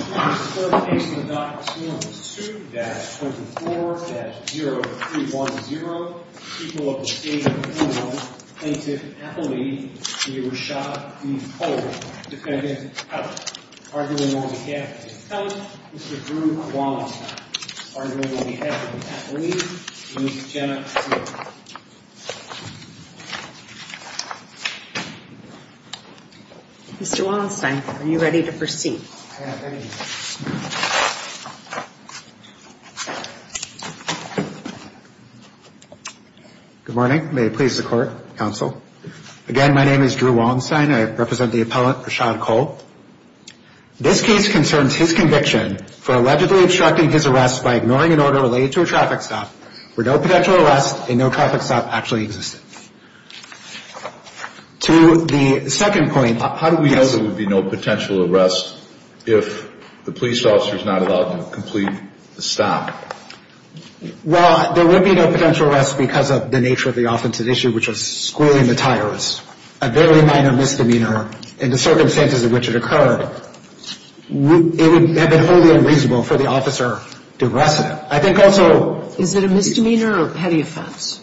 2-24-0310, people of the state of Illinois plaintiff Apolline, you were shot at the pole defendant out. Arguing on behalf of himself, Mr. Drew Wallenstein. Arguing on behalf of Apolline, please stand up. Mr. Wallenstein, are you ready to proceed? Good morning, may it please the court, counsel. Again, my name is Drew Wallenstein, I represent the appellant Rashad Cole. This case concerns his conviction for allegedly obstructing his arrest by ignoring an order related to a traffic stop where no potential arrest and no traffic stop actually existed. To the second point... How do we know there would be no potential arrest if the police officer is not allowed to complete the stop? Well, there would be no potential arrest because of the nature of the offensive issue, which was squealing the tires. A very minor misdemeanor in the circumstances in which it occurred. It would have been wholly unreasonable for the officer to arrest him. Is it a misdemeanor or petty offense?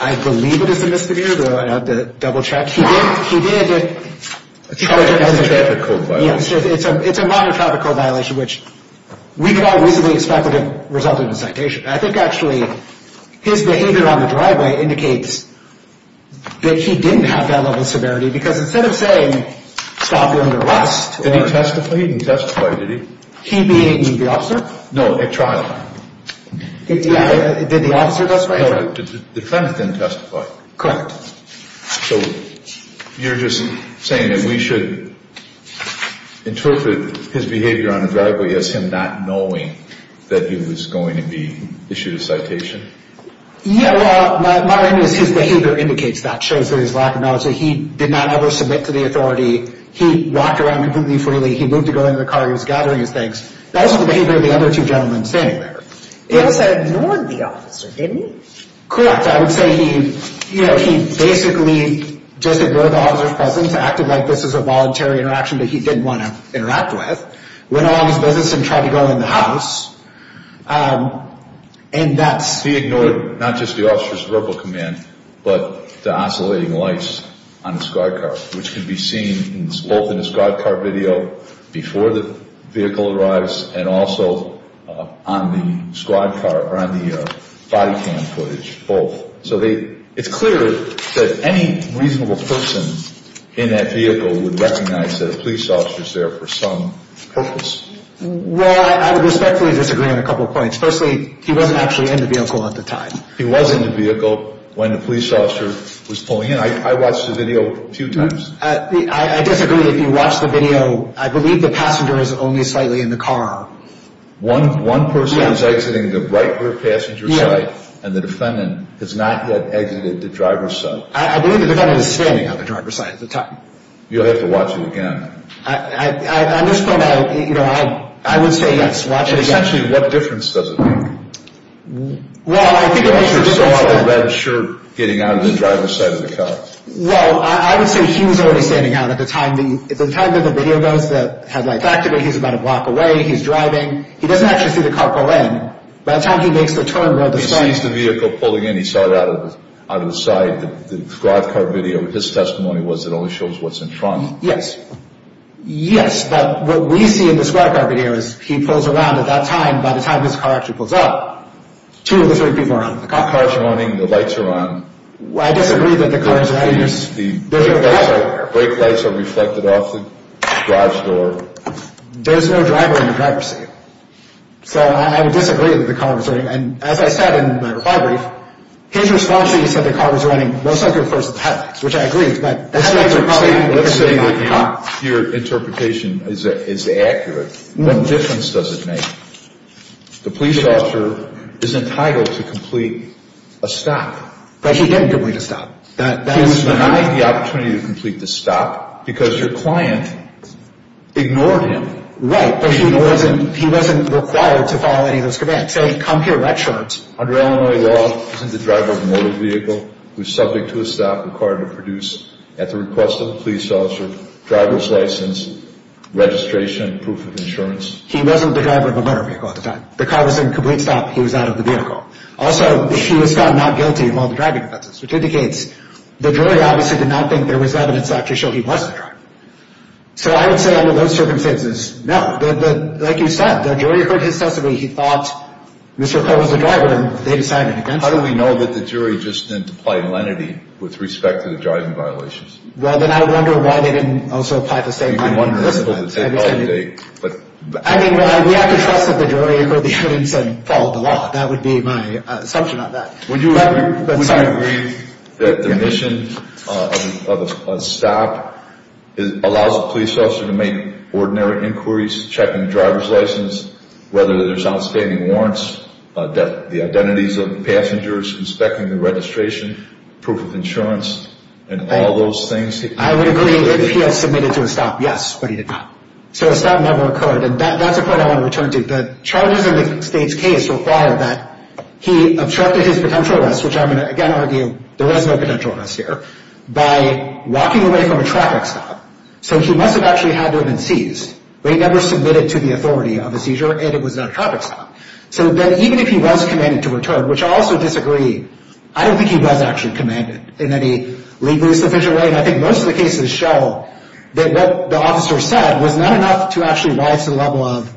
I believe it is a misdemeanor, though I'd have to double check. It's a minor traffic code violation, which we could all reasonably expect would have resulted in a citation. I think actually his behavior on the driveway indicates that he testified? He didn't testify, did he? He being the officer? No, at trial. Did the officer testify? No, the defendant didn't testify. Correct. So, you're just saying that we should interpret his behavior on the driveway as him not knowing that he was going to be issued a citation? Yeah, well, my understanding is his behavior indicates that, shows that his lack of knowledge. He did not ever submit to the authority. He walked around completely freely. He moved to go into the car. He was gathering his things. That was the behavior of the other two gentlemen standing there. He also ignored the officer, didn't he? Correct. I would say he basically just ignored the officer's presence, acted like this was a voluntary interaction that he didn't want to interact with, went along his business and tried to go in the house. And that's... He ignored not just the officer's verbal command, but the oscillating lights on the squad car, which can be seen both in the squad car video before the vehicle arrives and also on the squad car or on the body cam footage, both. So, it's clear that any reasonable person in that vehicle would recognize that a police officer is there for some purpose. Well, I would respectfully disagree on a couple points. Firstly, he wasn't actually in the vehicle at the time. He was in the vehicle when the police officer was pulling in. I watched the video a few times. I disagree. If you watch the video, I believe the passenger is only slightly in the car. One person is exiting the right rear passenger side and the defendant has not yet exited the driver's side. I believe the defendant is standing on the driver's side at the time. You'll have to watch it again. On this point, I would say, yes, watch it again. Essentially, what difference does it make? Well, I think it makes a difference... Is there some other red shirt getting out of the driver's side of the car? Well, I would say he was already standing out at the time. At the time that the video goes, he's about a block away, he's driving. He doesn't actually see the car pull in. By the time he makes the turn... He sees the vehicle pulling in, he saw it out of the side. The squad car video, his testimony was it only shows what's in front. Yes. Yes, but what we see in the squad car video is he pulls around at that time. By the time his car actually pulls up, two of the three people are out of the car. The car is running, the lights are on. I disagree that the car is running. The brake lights are reflected off the driver's door. There's no driver in the driver's seat. So I would disagree that the car was running. And as I said in my reply brief, his response to me said the car was running, which I agree, but... Let's say that your interpretation is accurate. What difference does it make? The police officer is entitled to complete a stop. But he didn't complete a stop. He was denied the opportunity to complete the stop because your client ignored him. Right, but he wasn't required to follow any of those commands. Say, come here, red shirt. Under Illinois law, isn't the driver of a motor vehicle who is subject to a stop required to produce, at the request of the police officer, driver's license, registration, proof of insurance? He wasn't the driver of a motor vehicle at the time. The car was in complete stop. He was out of the vehicle. Also, he was found not guilty of all the driving offenses, which indicates the jury obviously did not think there was evidence to actually show he was the driver. So I would say under those circumstances, no. But like you said, the jury heard his testimony. He thought Mr. Cole was the driver, and they decided against him. How do we know that the jury just didn't apply lenity with respect to the driving violations? Well, then I would wonder why they didn't also apply the same kind of license. You could wonder, and it'll take all day, but... I mean, we have to trust that the jury heard the evidence and followed the law. That would be my assumption on that. Would you agree that the mission of a stop allows a police officer to make ordinary inquiries, checking the driver's license, whether there's outstanding warrants, the identities of the passengers, inspecting the registration, proof of insurance, and all those things? I would agree if he had submitted to a stop, yes, but he did not. So a stop never occurred, and that's a point I want to return to. The charges in the state's case require that he obstructed his potential arrest, which I'm going to again argue there was no potential arrest here, by walking away from a traffic stop. So he must have actually had to have been seized, but he never submitted to the authority of a seizure, and it was not a traffic stop. So then even if he was commanded to return, which I also disagree, I don't think he was actually commanded in any legally sufficient way, and I think most of the cases show that what the officer said was not enough to actually rise to the level of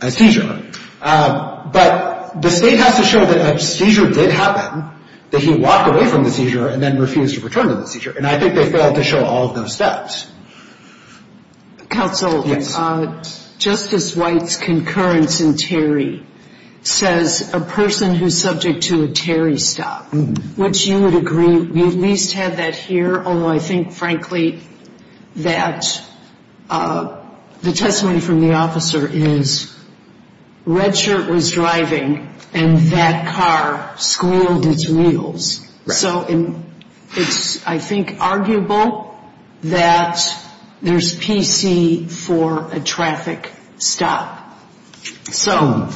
a seizure. But the state has to show that a seizure did happen, that he walked away from the seizure and then refused to return to the seizure, and I think they failed to show all of those steps. Counsel, Justice White's concurrence in Terry says a person who's subject to a Terry stop, which you would agree we at least have that here, although I think frankly that the testimony from the officer is Redshirt was driving and that car squealed its wheels. So it's, I think, arguable that there's PC for a traffic stop. So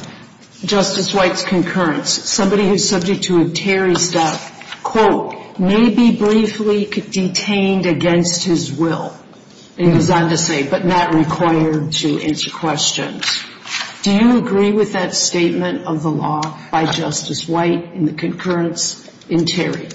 Justice White's concurrence, somebody who's subject to a Terry stop, quote, may be briefly detained against his will, it goes on to say, but not required to answer questions. Do you agree with that statement of the law by Justice White in the concurrence in Terry?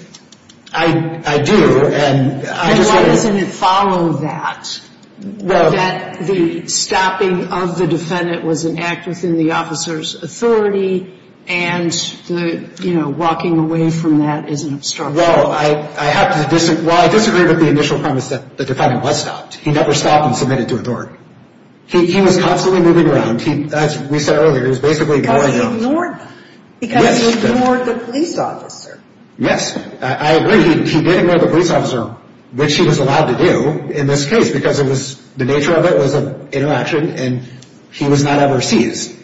I do. And why doesn't it follow that? That the stopping of the defendant was an act within the officer's authority and the, you know, walking away from that is an obstruction. Well, I have to disagree. Well, I disagree with the initial premise that the defendant was stopped. He never stopped and submitted to a door. He was constantly moving around. As we said earlier, he was basically going around. Because he ignored the police officer. Yes. I agree. He did ignore the police officer, which he was allowed to do in this case because the nature of it was an interaction and he was not ever seized.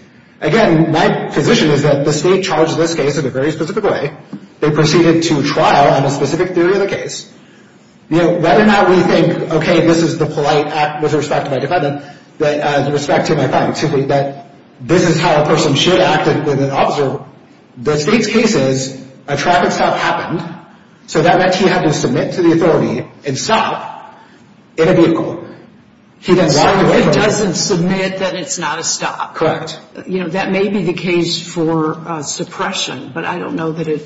Again, my position is that the state charged this case in a very specific way. They proceeded to trial on a specific theory of the case. You know, whether or not we think, okay, this is the polite act with respect to my defendant, with respect to my client, simply that this is how a person should act with an officer, the state's case is a traffic stop happened, so that meant he had to submit to the authority and stop in a vehicle. He didn't walk away from it. So it doesn't submit that it's not a stop. Correct. You know, that may be the case for suppression, but I don't know that it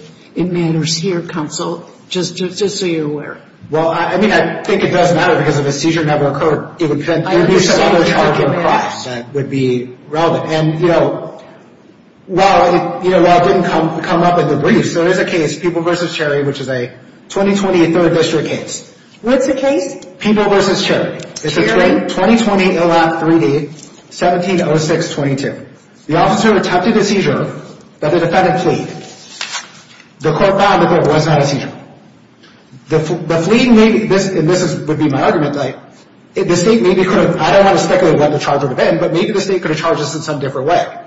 matters here, Counsel, just so you're aware. Well, I mean, I think it does matter because if a seizure never occurred, it would be a separate charge of a crime that would be relevant. And, you know, while it didn't come up in the briefs, there is a case, People v. Cherry, which is a 2020 3rd District case. What's the case? People v. Cherry. Cherry? It's a 2020 ILA 3D, 17-06-22. The officer attempted a seizure, but the defendant fleed. The court found that there was not a seizure. The fleeing, and this would be my argument, the state maybe could have, I don't want to speculate what the charge would have been, but maybe the state could have charged this in some different way.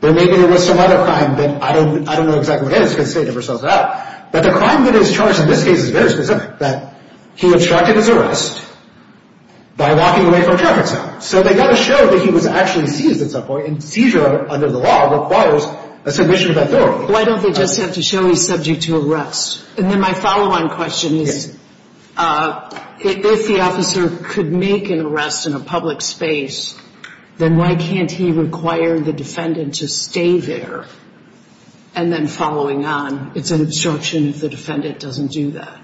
Or maybe there was some other crime that I don't know exactly what it is because the state never sells it out. But the crime that is charged in this case is very specific, that he obstructed his arrest by walking away from a traffic stop. So they got to show that he was actually seized at some point, and seizure under the law requires a submission of authority. Why don't they just have to show he's subject to arrest? And then my follow-on question is, if the officer could make an arrest in a public space, then why can't he require the defendant to stay there and then following on? It's an obstruction if the defendant doesn't do that.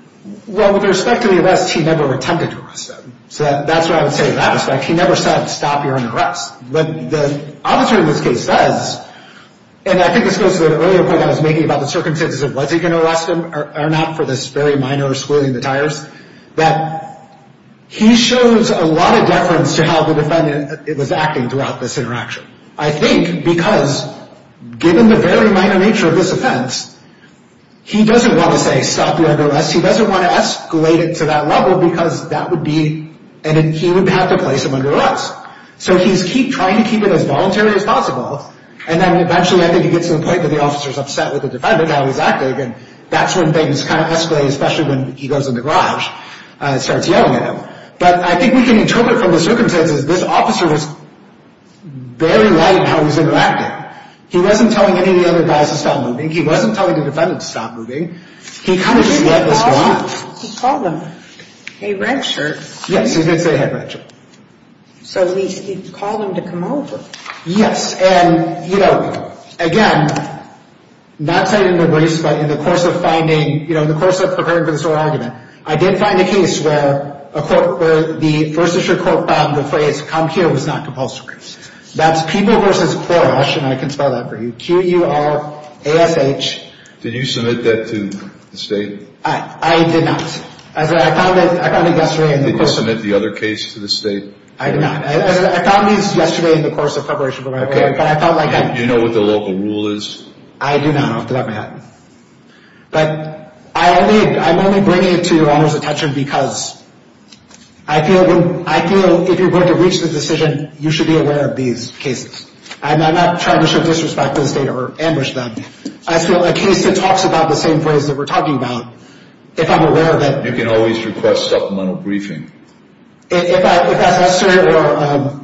Well, with respect to the arrest, he never attempted to arrest them. So that's what I would say in that respect. He never said, stop, you're under arrest. But the officer in this case says, and I think this goes to the earlier point I was making about the circumstances of was he going to arrest him or not for this very minor squirreling the tires, that he shows a lot of deference to how the defendant was acting throughout this interaction. I think because given the very minor nature of this offense, he doesn't want to say, stop, you're under arrest. He doesn't want to escalate it to that level because that would be, and he would have to place him under arrest. So he's trying to keep it as voluntary as possible. And then eventually I think he gets to the point that the officer is upset with the defendant, how he's acting, and that's when things kind of escalate, especially when he goes in the garage and starts yelling at him. But I think we can interpret from the circumstances, this officer was very light in how he was interacting. He wasn't telling any of the other guys to stop moving. He wasn't telling the defendant to stop moving. He kind of just let this go on. He called him. Hey, red shirt. Yes. He did say, hey, red shirt. So at least he called him to come over. Yes. And, you know, again, not citing the briefs, but in the course of finding, you know, in the course of preparing for this whole argument, I did find a case where a court, where the First Assured Court found the phrase come here was not compulsory. That's People v. Porush, and I can spell that for you, Q-U-R-A-S-H. Did you submit that to the state? I did not. I found it yesterday. Did you submit the other case to the state? I did not. I found these yesterday in the course of preparation for my argument. But I felt like I... Do you know what the local rule is? I do not. Off the top of my head. But I'm only bringing it to your Honor's attention because I feel if you're going to reach the decision, you should be aware of these cases. And I'm not trying to show disrespect to the state or ambush them. I feel a case that talks about the same phrase that we're talking about, if I'm aware of it... You can always request supplemental briefing. If that's necessary or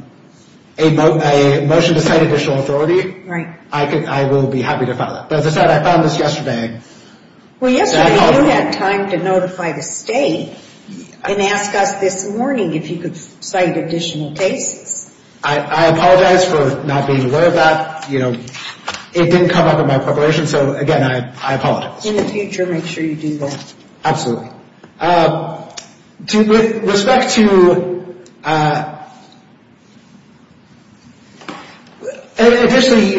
a motion to cite additional authority... Right. I will be happy to file that. But as I said, I found this yesterday. Well, yesterday you had time to notify the state and ask us this morning if you could cite additional cases. I apologize for not being aware of that. It didn't come up in my preparation. So, again, I apologize. In the future, make sure you do that. Absolutely. With respect to... Additionally,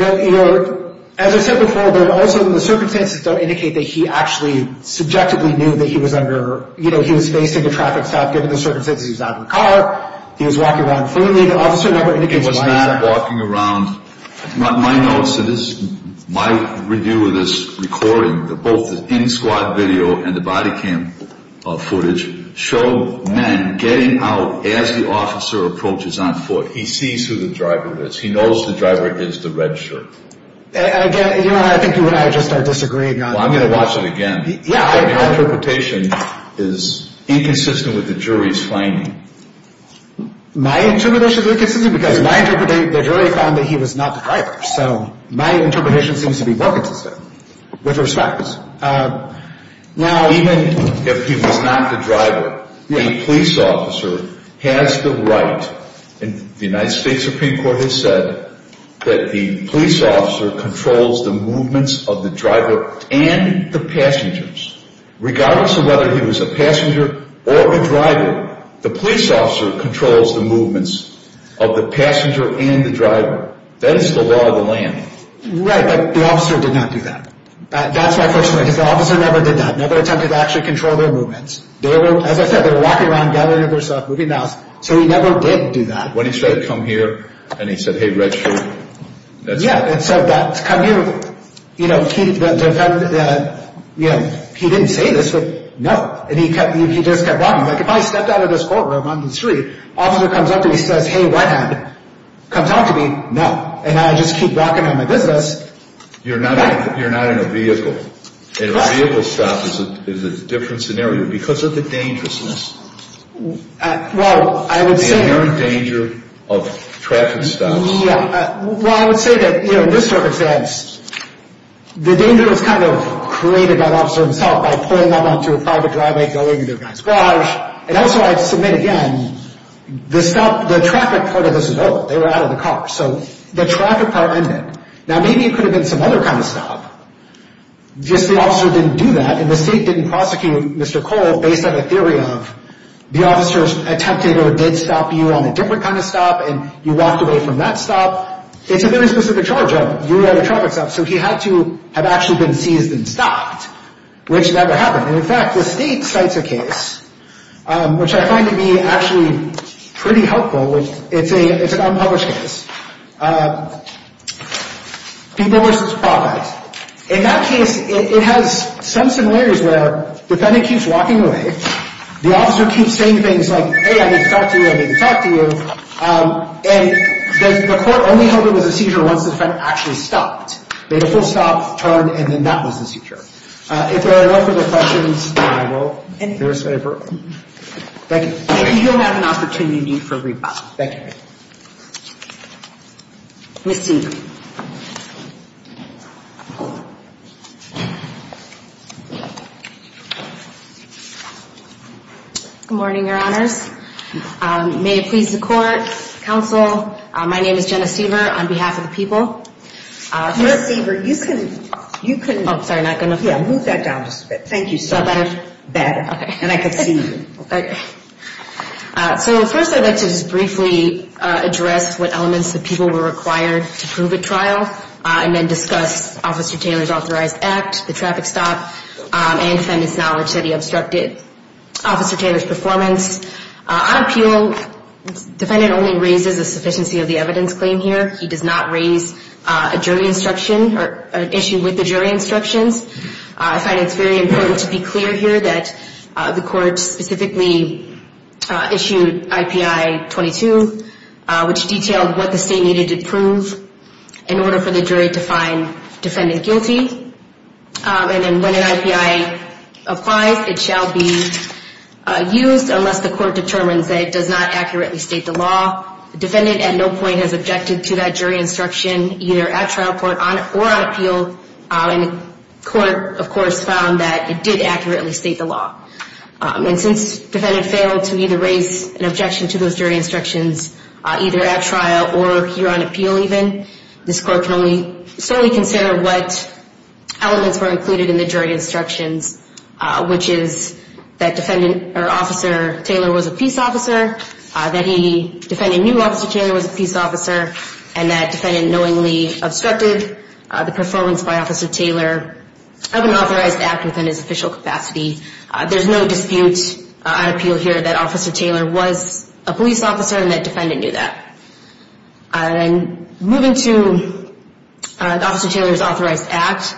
as I said before... Also, the circumstances don't indicate that he actually subjectively knew that he was under... He was facing a traffic stop, given the circumstances. He was not in a car. He was walking around freely. He was not walking around... My notes... This is my review of this recording. Both the in-squad video and the body cam footage show men getting out as the officer approaches on foot. He sees who the driver is. He knows the driver is the red shirt. Again, I think you and I just are disagreeing on... Well, I'm going to watch it again. Yeah, I... The interpretation is inconsistent with the jury's finding. My interpretation is inconsistent because my interpretation... The jury found that he was not the driver. So, my interpretation seems to be more consistent. With respect... Now, even if he was not the driver, the police officer has the right... And the United States Supreme Court has said that the police officer controls the movements of the driver and the passengers. Regardless of whether he was a passenger or a driver. The police officer controls the movements of the passenger and the driver. That is the law of the land. Right, but the officer did not do that. That's my first... Because the officer never did that. Never attempted to actually control their movements. They were... As I said, they were walking around, gathering their stuff, moving mouths. So, he never did do that. When he said, come here... And he said, hey, red shirt. Yeah, and said that... Come here... You know... He... You know... He didn't say this, but... No. And he kept... He just kept walking. Like, if I stepped out of this courtroom on the street... Officer comes up to me and says, hey, redhead. Come talk to me. No. And I just keep walking on my business. You're not... You're not in a vehicle. And a vehicle stop is a different scenario because of the dangerousness. Well, I would say... The inherent danger of traffic stops. Yeah. Well, I would say that, you know, in this circumstance... The danger was kind of created by the officer himself. By pulling them onto a private driveway. Going into a guy's garage. And also, I'd submit again... The stop... The traffic part of this is over. They were out of the car. So, the traffic part ended. Now, maybe it could have been some other kind of stop. Just the officer didn't do that. And the state didn't prosecute Mr. Cole based on a theory of... The officer attempted or did stop you on a different kind of stop. And you walked away from that stop. It's a very specific charge of... You are the traffic stop. So, he had to have actually been seized and stopped. Which never happened. And, in fact, the state cites a case... Which I find to be actually pretty helpful. It's an unpublished case. People vs. Profit. In that case, it has some similarities where... The defendant keeps walking away. The officer keeps saying things like... Hey, I need to talk to you. I need to talk to you. And the court only held it as a seizure once the defendant actually stopped. Made a full stop, turned, and then that was the seizure. If there are no further questions, I will. Thank you. You'll have an opportunity for a rebuttal. Thank you. Ms. Siever. Good morning, Your Honors. May it please the Court, Counsel. My name is Jenna Siever on behalf of the people. Ms. Siever, you can... You can... Oh, sorry, not going to. Yeah, move that down just a bit. Thank you so much. Is that better? Better. Okay. And I can see you. Okay. So, first, I'd like to just briefly address what elements the people were required to prove at trial. And then discuss Officer Taylor's authorized act, the traffic stop, and defendant's knowledge that he obstructed Officer Taylor's performance. On appeal, the defendant only raises a sufficiency of the evidence claim here. He does not raise a jury instruction or an issue with the jury instructions. I find it's very important to be clear here that the Court specifically issued IPI-22, which detailed what the state needed to prove in order for the jury to find defendant guilty. And then when an IPI applies, it shall be used unless the Court determines that it does not accurately state the law. The defendant at no point has objected to that jury instruction, either at trial or on appeal. And the Court, of course, found that it did accurately state the law. And since defendant failed to either raise an objection to those jury instructions, either at trial or here on appeal even, this Court can only solely consider what elements were included in the jury instructions, which is that defendant or Officer Taylor was a peace officer, that the defendant knew Officer Taylor was a peace officer, and that defendant knowingly obstructed the performance by Officer Taylor of an authorized act within his official capacity. There's no dispute on appeal here that Officer Taylor was a police officer and that defendant knew that. And moving to Officer Taylor's authorized act,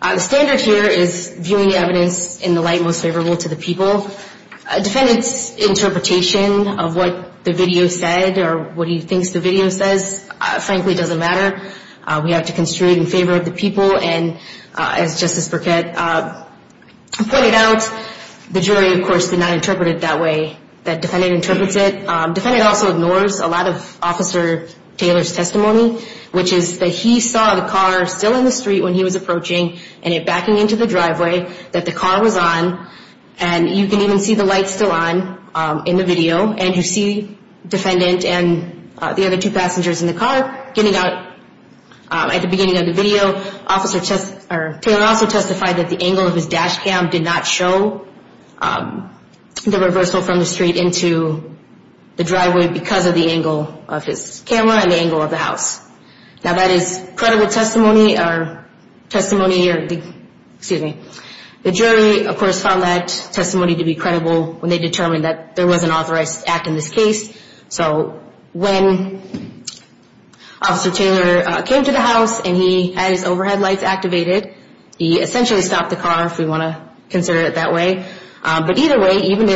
the standard here is viewing the evidence in the light most favorable to the people. A defendant's interpretation of what the video said or what he thinks the video says, frankly, doesn't matter. We have to construe it in favor of the people. And as Justice Burkett pointed out, the jury, of course, did not interpret it that way that defendant interprets it. Defendant also ignores a lot of Officer Taylor's testimony, which is that he saw the car still in the street when he was approaching and it backing into the driveway that the car was on. And you can even see the lights still on in the video. And you see defendant and the other two passengers in the car getting out at the beginning of the video. Officer Taylor also testified that the angle of his dash cam did not show the reversal from the street into the driveway because of the angle of his camera and the angle of the house. Now, that is credible testimony. The jury, of course, found that testimony to be credible when they determined that there was an authorized act in this case. So when Officer Taylor came to the house and he had his overhead lights activated, he essentially stopped the car, if we want to consider it that way. But either way, even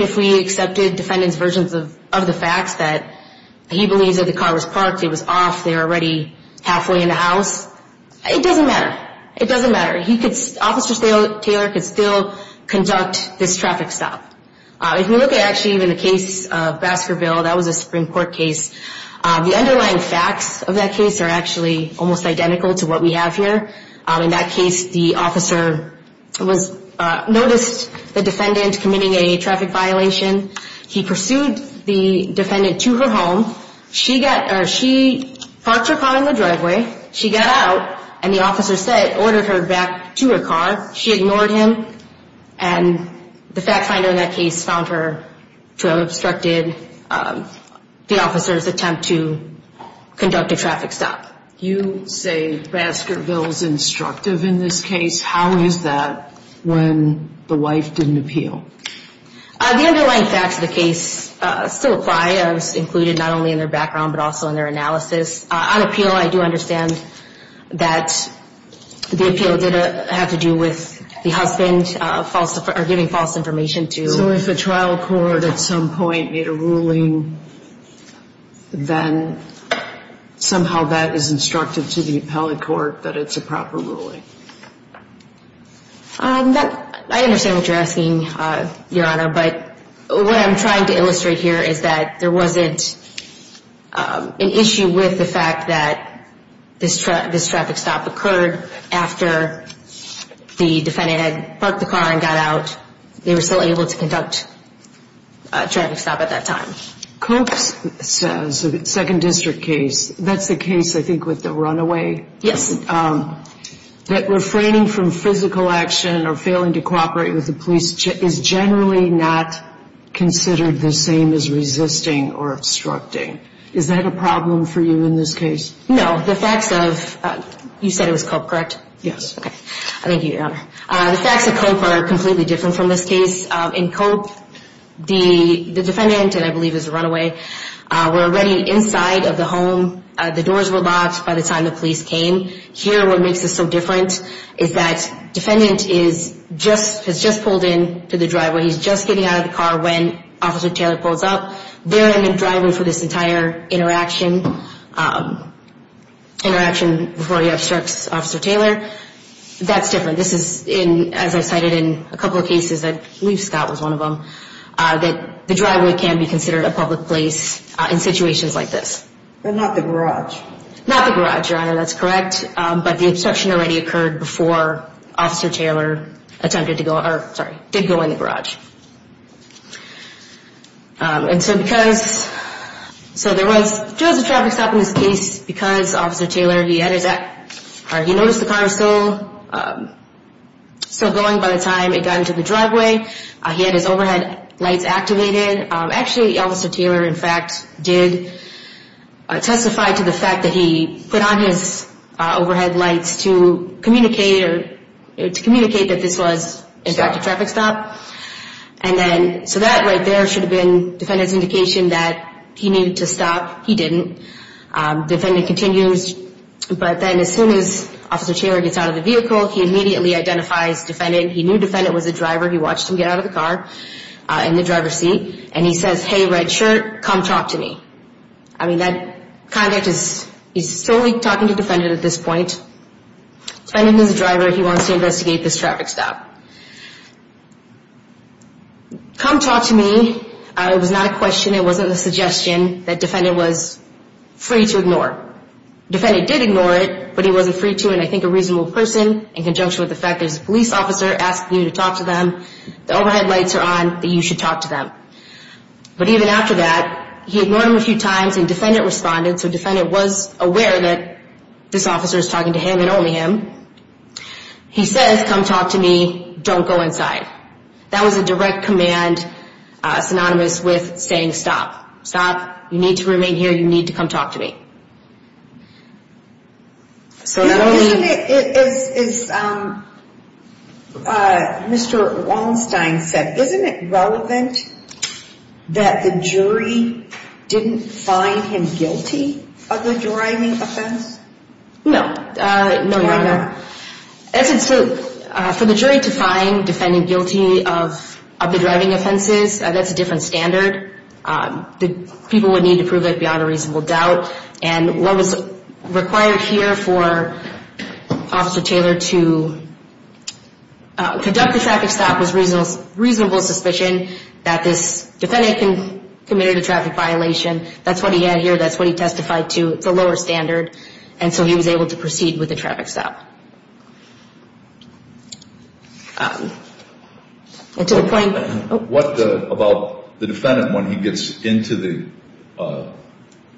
if we accepted defendant's versions of the facts that he believes that the car was parked, it was off, they were already halfway in the house, it doesn't matter. Officer Taylor could still conduct this traffic stop. If you look at actually even the case of Baskerville, that was a Supreme Court case, the underlying facts of that case are actually almost identical to what we have here. In that case, the officer noticed the defendant committing a traffic violation. He pursued the defendant to her home. She parked her car in the driveway. She got out, and the officer ordered her back to her car. She ignored him, and the fact finder in that case found her to have obstructed the officer's attempt to conduct a traffic stop. You say Baskerville's instructive in this case. How is that when the wife didn't appeal? The underlying facts of the case still apply. It was included not only in their background, but also in their analysis. I do understand that the appeal did have to do with the husband giving false information. So if a trial court at some point made a ruling, then somehow that is instructive to the appellate court that it's a proper ruling? I understand what you're asking, Your Honor, but what I'm trying to illustrate here is that there wasn't an issue with the fact that this traffic stop occurred after the defendant had parked the car and got out. They were still able to conduct a traffic stop at that time. Koch's second district case, that's the case, I think, with the runaway? Yes. I understand that refraining from physical action or failing to cooperate with the police is generally not considered the same as resisting or obstructing. Is that a problem for you in this case? No. You said it was Koch, correct? Yes. The facts of Koch are completely different from this case. In Koch, the defendant, and I believe it was the runaway, were already inside of the home. The doors were locked by the time the police came. Here, what makes this so different is that defendant has just pulled into the driveway. He's just getting out of the car when Officer Taylor pulls up. They're in the driveway for this entire interaction before he obstructs Officer Taylor. That's different. This is, as I cited in a couple of cases, I believe Scott was one of them, that the driveway can be considered a public place in situations like this. But not the garage? Not the garage, Your Honor, that's correct. But the obstruction already occurred before Officer Taylor attempted to go, or sorry, did go in the garage. And so because, so there was, there was a traffic stop in this case because Officer Taylor, he had his, he noticed the car still going by the time it got into the driveway. He had his overhead lights activated. Actually, Officer Taylor, in fact, did testify to the fact that he put on his overhead lights to communicate, or to communicate that this was, in fact, a traffic stop. And then, so that right there should have been defendant's indication that he needed to stop. He didn't. Defendant continues. But then as soon as Officer Taylor gets out of the vehicle, he immediately identifies defendant. He knew defendant was a driver. He watched him get out of the car in the driver's seat. And he says, hey, red shirt, come talk to me. I mean, that conduct is, he's solely talking to defendant at this point. Defendant is a driver. He wants to investigate this traffic stop. Come talk to me. It was not a question. It wasn't a suggestion. That defendant was free to ignore. Defendant did ignore it, but he wasn't free to. And I think a reasonable person, in conjunction with the fact there's a police officer asking you to talk to them, the overhead lights are on, that you should talk to them. But even after that, he ignored him a few times and defendant responded. So defendant was aware that this officer is talking to him and only him. He says, come talk to me. Don't go inside. That was a direct command synonymous with saying stop. Stop. You need to remain here. You need to come talk to me. As Mr. Wallenstein said, isn't it relevant that the jury didn't find him guilty of the driving offense? No. No, Your Honor. For the jury to find defendant guilty of the driving offenses, that's a different standard. People would need to prove it beyond a reasonable doubt. And what was required here for Officer Taylor to conduct the traffic stop was reasonable suspicion that this defendant committed a traffic violation. That's what he had here. That's what he testified to. It's a lower standard. And so he was able to proceed with the traffic stop. What about the defendant when he gets into the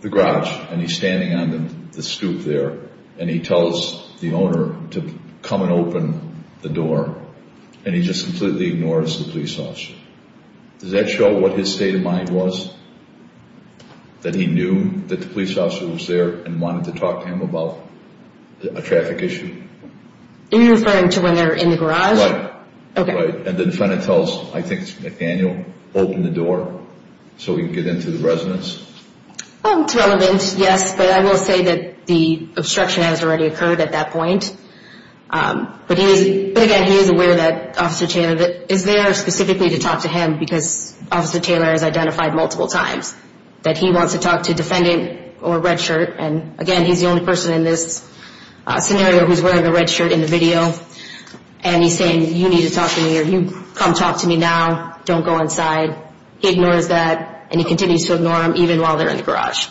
garage and he's standing on the stoop there and he tells the owner to come and open the door and he just completely ignores the police officer? Does that show what his state of mind was? That he knew that the police officer was there and wanted to talk to him about a traffic issue? Are you referring to when they're in the garage? Right. And the defendant tells, I think it's McDaniel, open the door so we can get into the residence. It's relevant, yes, but I will say that the obstruction has already occurred at that point. But again, he is aware that Officer Taylor is there specifically to talk to him because Officer Taylor has identified multiple times. That he wants to talk to defendant or red shirt, and again, he's the only person in this scenario who's wearing a red shirt in the video. And he's saying, you need to talk to me or you come talk to me now, don't go inside. He ignores that and he continues to ignore them even while they're in the garage.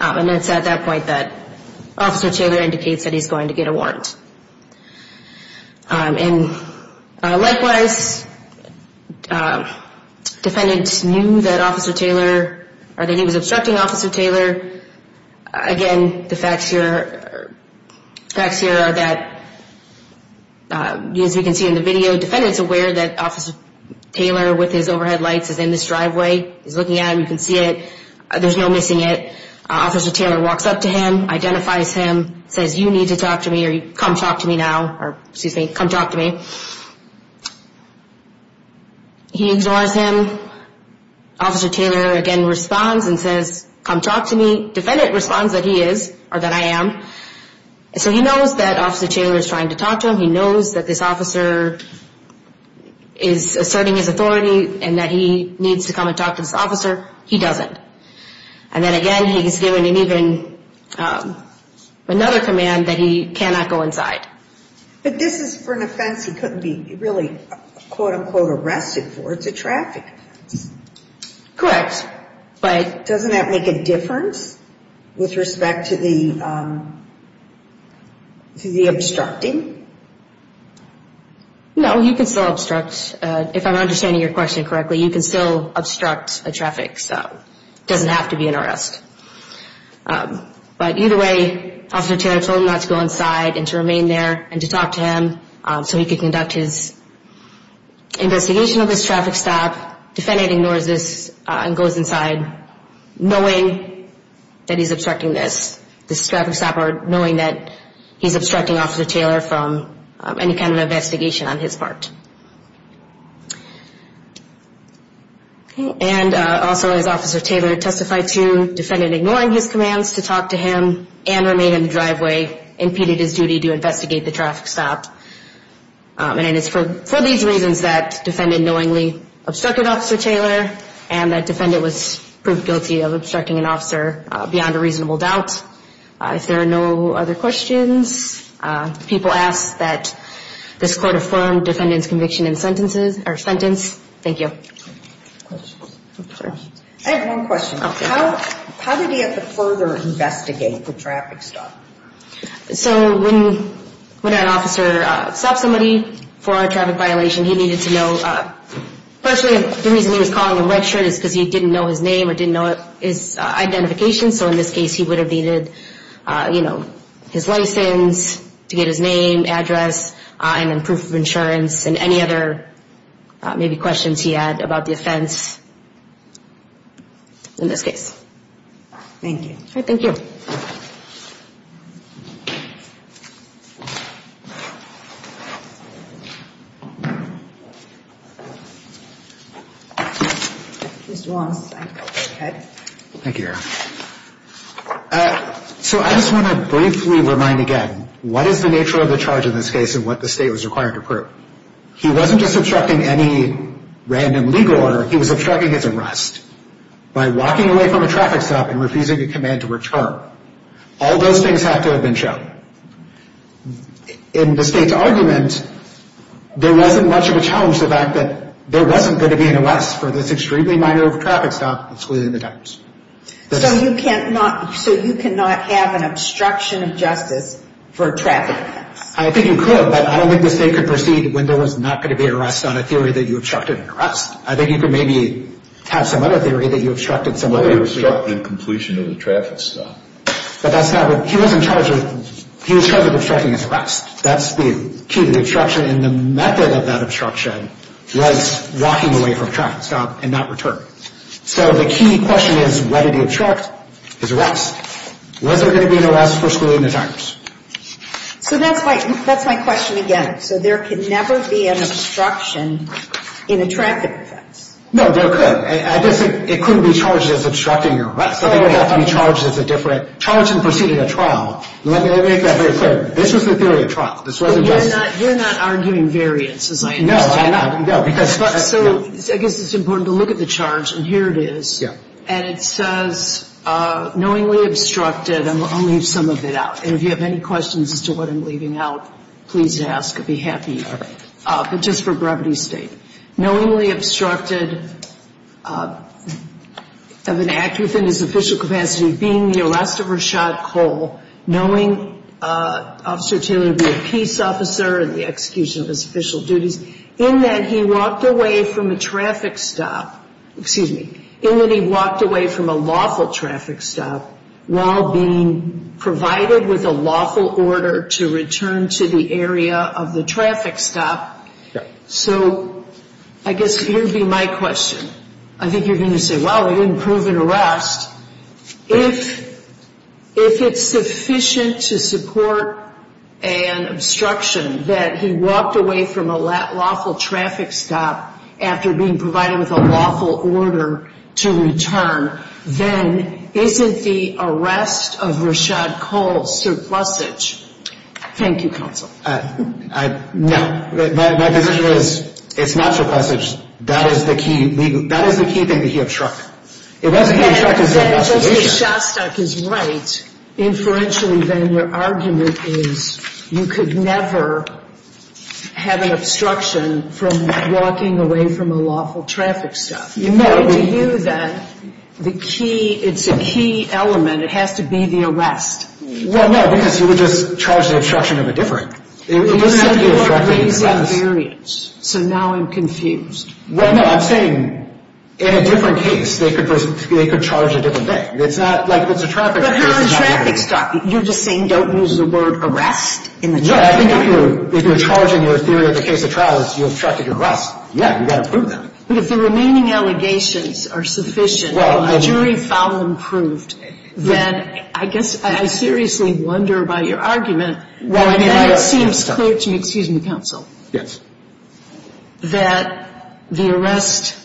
And it's at that point that Officer Taylor indicates that he's going to get a warrant. And likewise, defendant knew that Officer Taylor, or that he was obstructing Officer Taylor. Again, the facts here are that, as we can see in the video, defendant's aware that Officer Taylor with his overhead lights is in this driveway. He's looking at him, you can see it, there's no missing it. Officer Taylor walks up to him, identifies him, says, you need to talk to me or come talk to me now, or excuse me, come talk to me. He ignores him. Officer Taylor again responds and says, come talk to me. Defendant responds that he is, or that I am. So he knows that Officer Taylor is trying to talk to him. He knows that this officer is asserting his authority and that he needs to come and talk to this officer. He doesn't. And then again, he's given him even another command that he cannot go inside. But this is for an offense he couldn't be really, quote unquote, arrested for. It's a traffic offense. Correct. But doesn't that make a difference with respect to the obstructing? No, you can still obstruct. If I'm understanding your question correctly, you can still obstruct a traffic. So it doesn't have to be an arrest. But either way, Officer Taylor told him not to go inside and to remain there and to talk to him. So he could conduct his investigation of this traffic stop. Defendant ignores this and goes inside knowing that he's obstructing this. This traffic stop or knowing that he's obstructing Officer Taylor from any kind of investigation on his part. And also, as Officer Taylor testified to, defendant ignoring his commands to talk to him and remain in the driveway impeded his duty to investigate the traffic stop. And it's for these reasons that defendant knowingly obstructed Officer Taylor and that defendant was proved guilty of obstructing an officer beyond a reasonable doubt. If there are no other questions, people ask that this Court affirm defendant's conviction. Thank you. I have one question. How did he have to further investigate the traffic stop? So when an officer stopped somebody for a traffic violation, he needed to know. Firstly, the reason he was calling a red shirt is because he didn't know his name or didn't know his identification. So in this case, he would have needed, you know, his license to get his name, address and proof of insurance and any other maybe questions he had about the offense in this case. Thank you. Thank you. So I just want to briefly remind again, what is the nature of the charge in this case and what the state was required to prove? He wasn't just obstructing any random legal order. He was obstructing his arrest. By walking away from a traffic stop and refusing a command to return. All those things have to have been shown. In the state's argument, there wasn't much of a challenge to the fact that there wasn't going to be an arrest for this extremely minor traffic stop. So you cannot have an obstruction of justice for a traffic offense? I think you could, but I don't think the state could proceed when there was not going to be an arrest on a theory that you obstructed an arrest. I think you could maybe have some other theory that you obstructed some other. He was in charge of obstructing his arrest. That's the key to the obstruction. And the method of that obstruction was walking away from a traffic stop and not return. So the key question is, when did he obstruct his arrest? Was there going to be an arrest for schooling and attire? So that's my question again. So there could never be an obstruction in a traffic offense? No, there could. It couldn't be charged as obstructing an arrest. It would have to be charged as a different charge in proceeding a trial. Let me make that very clear. This was the theory of trial. You're not arguing variances, I understand. No, I'm not. So I guess it's important to look at the charge, and here it is. And it says, knowingly obstructed, and I'll leave some of it out. And if you have any questions as to what I'm leaving out, please ask. I'd be happy. But just for brevity's sake. Knowingly obstructed of an act within his official capacity of being the arrest of Rashad Cole, knowing Officer Taylor would be a peace officer and the execution of his official duties, in that he walked away from a lawful traffic stop while being provided with a lawful order to return to the area of the traffic stop. So I guess here would be my question. I think you're going to say, well, we didn't prove an arrest. If it's sufficient to support an obstruction that he walked away from a lawful traffic stop after being provided with a lawful order to return, then isn't the arrest of Rashad Cole surplusage? Thank you, Counsel. No, my position is it's not surplusage. That is the key thing that he obstructed. And then Justice Shostak is right. Inferentially, then, your argument is you could never have an obstruction from walking away from a lawful traffic stop. It's a key element. It has to be the arrest. Well, no, because you would just charge the obstruction of a different. So now I'm confused. Well, no, I'm saying in a different case, they could charge a different thing. It's not like it's a traffic stop. You're just saying don't use the word arrest in the trial? No, I think if you're charging your theory in the case of trials, you obstructed an arrest. Yeah, you've got to prove that. But if the remaining allegations are sufficient and the jury found them proved, then I guess I seriously wonder about your argument. Well, I mean, it seems clear to me, excuse me, Counsel, that the arrest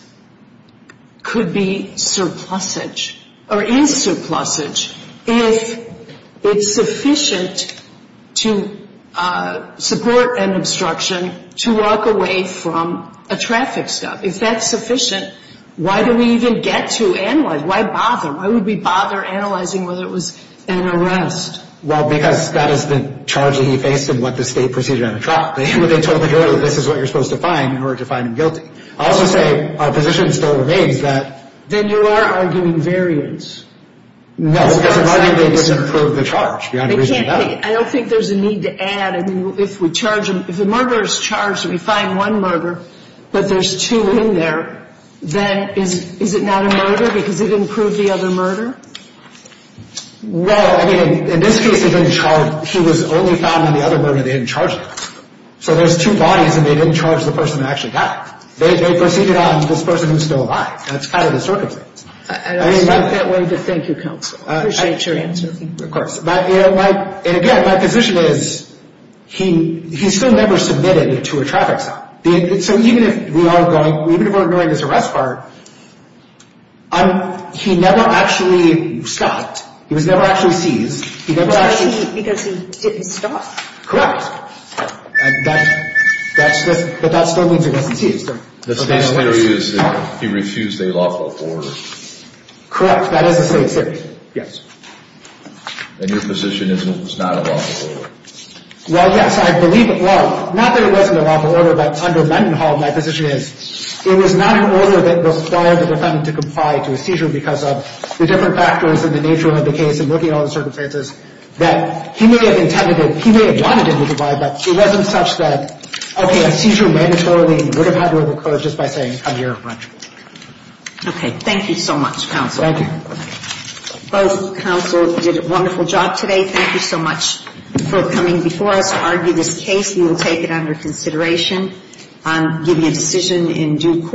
could be surplusage or is surplusage if it's sufficient to support an obstruction to walk away from a traffic stop. If that's sufficient, why do we even get to analyze? Why bother? Why would we bother analyzing whether it was an arrest? Well, because that is the charge that he faced in what the state proceeded on the trial. They told the jury that this is what you're supposed to find in order to find him guilty. Then you are arguing variance. I don't think there's a need to add. If the murder is charged, we find one murder, but there's two in there, then is it not a murder because it didn't prove the other murder? Well, I mean, in this case, he was only found in the other murder, they didn't charge him. So there's two bodies and they didn't charge the person who actually died. They proceeded on this person who's still alive. That's kind of the circumstance. I like that way to thank you, counsel. I appreciate your answer. And again, my position is he still never submitted to a traffic stop. So even if we're ignoring this arrest part, he never actually stopped. He was never actually seized. Because he didn't stop? Correct. But that still means he wasn't seized. The state's theory is that he refused a lawful order? Correct. That is the state's theory. And your position is it was not a lawful order? Well, yes, I believe it. Well, not that it wasn't a lawful order, but under Mendenhall, my position is it was not an order that required the defendant to comply to a seizure because of the different factors and the nature of the case and looking at all the circumstances that he may have intended, he may have wanted him to comply, but it wasn't such that, okay, a seizure mandatorily would have had to have occurred just by saying, come here, run. Okay. Thank you so much, counsel. Both counsel did a wonderful job today. Thank you so much for coming before us to argue this case. We will take it under consideration.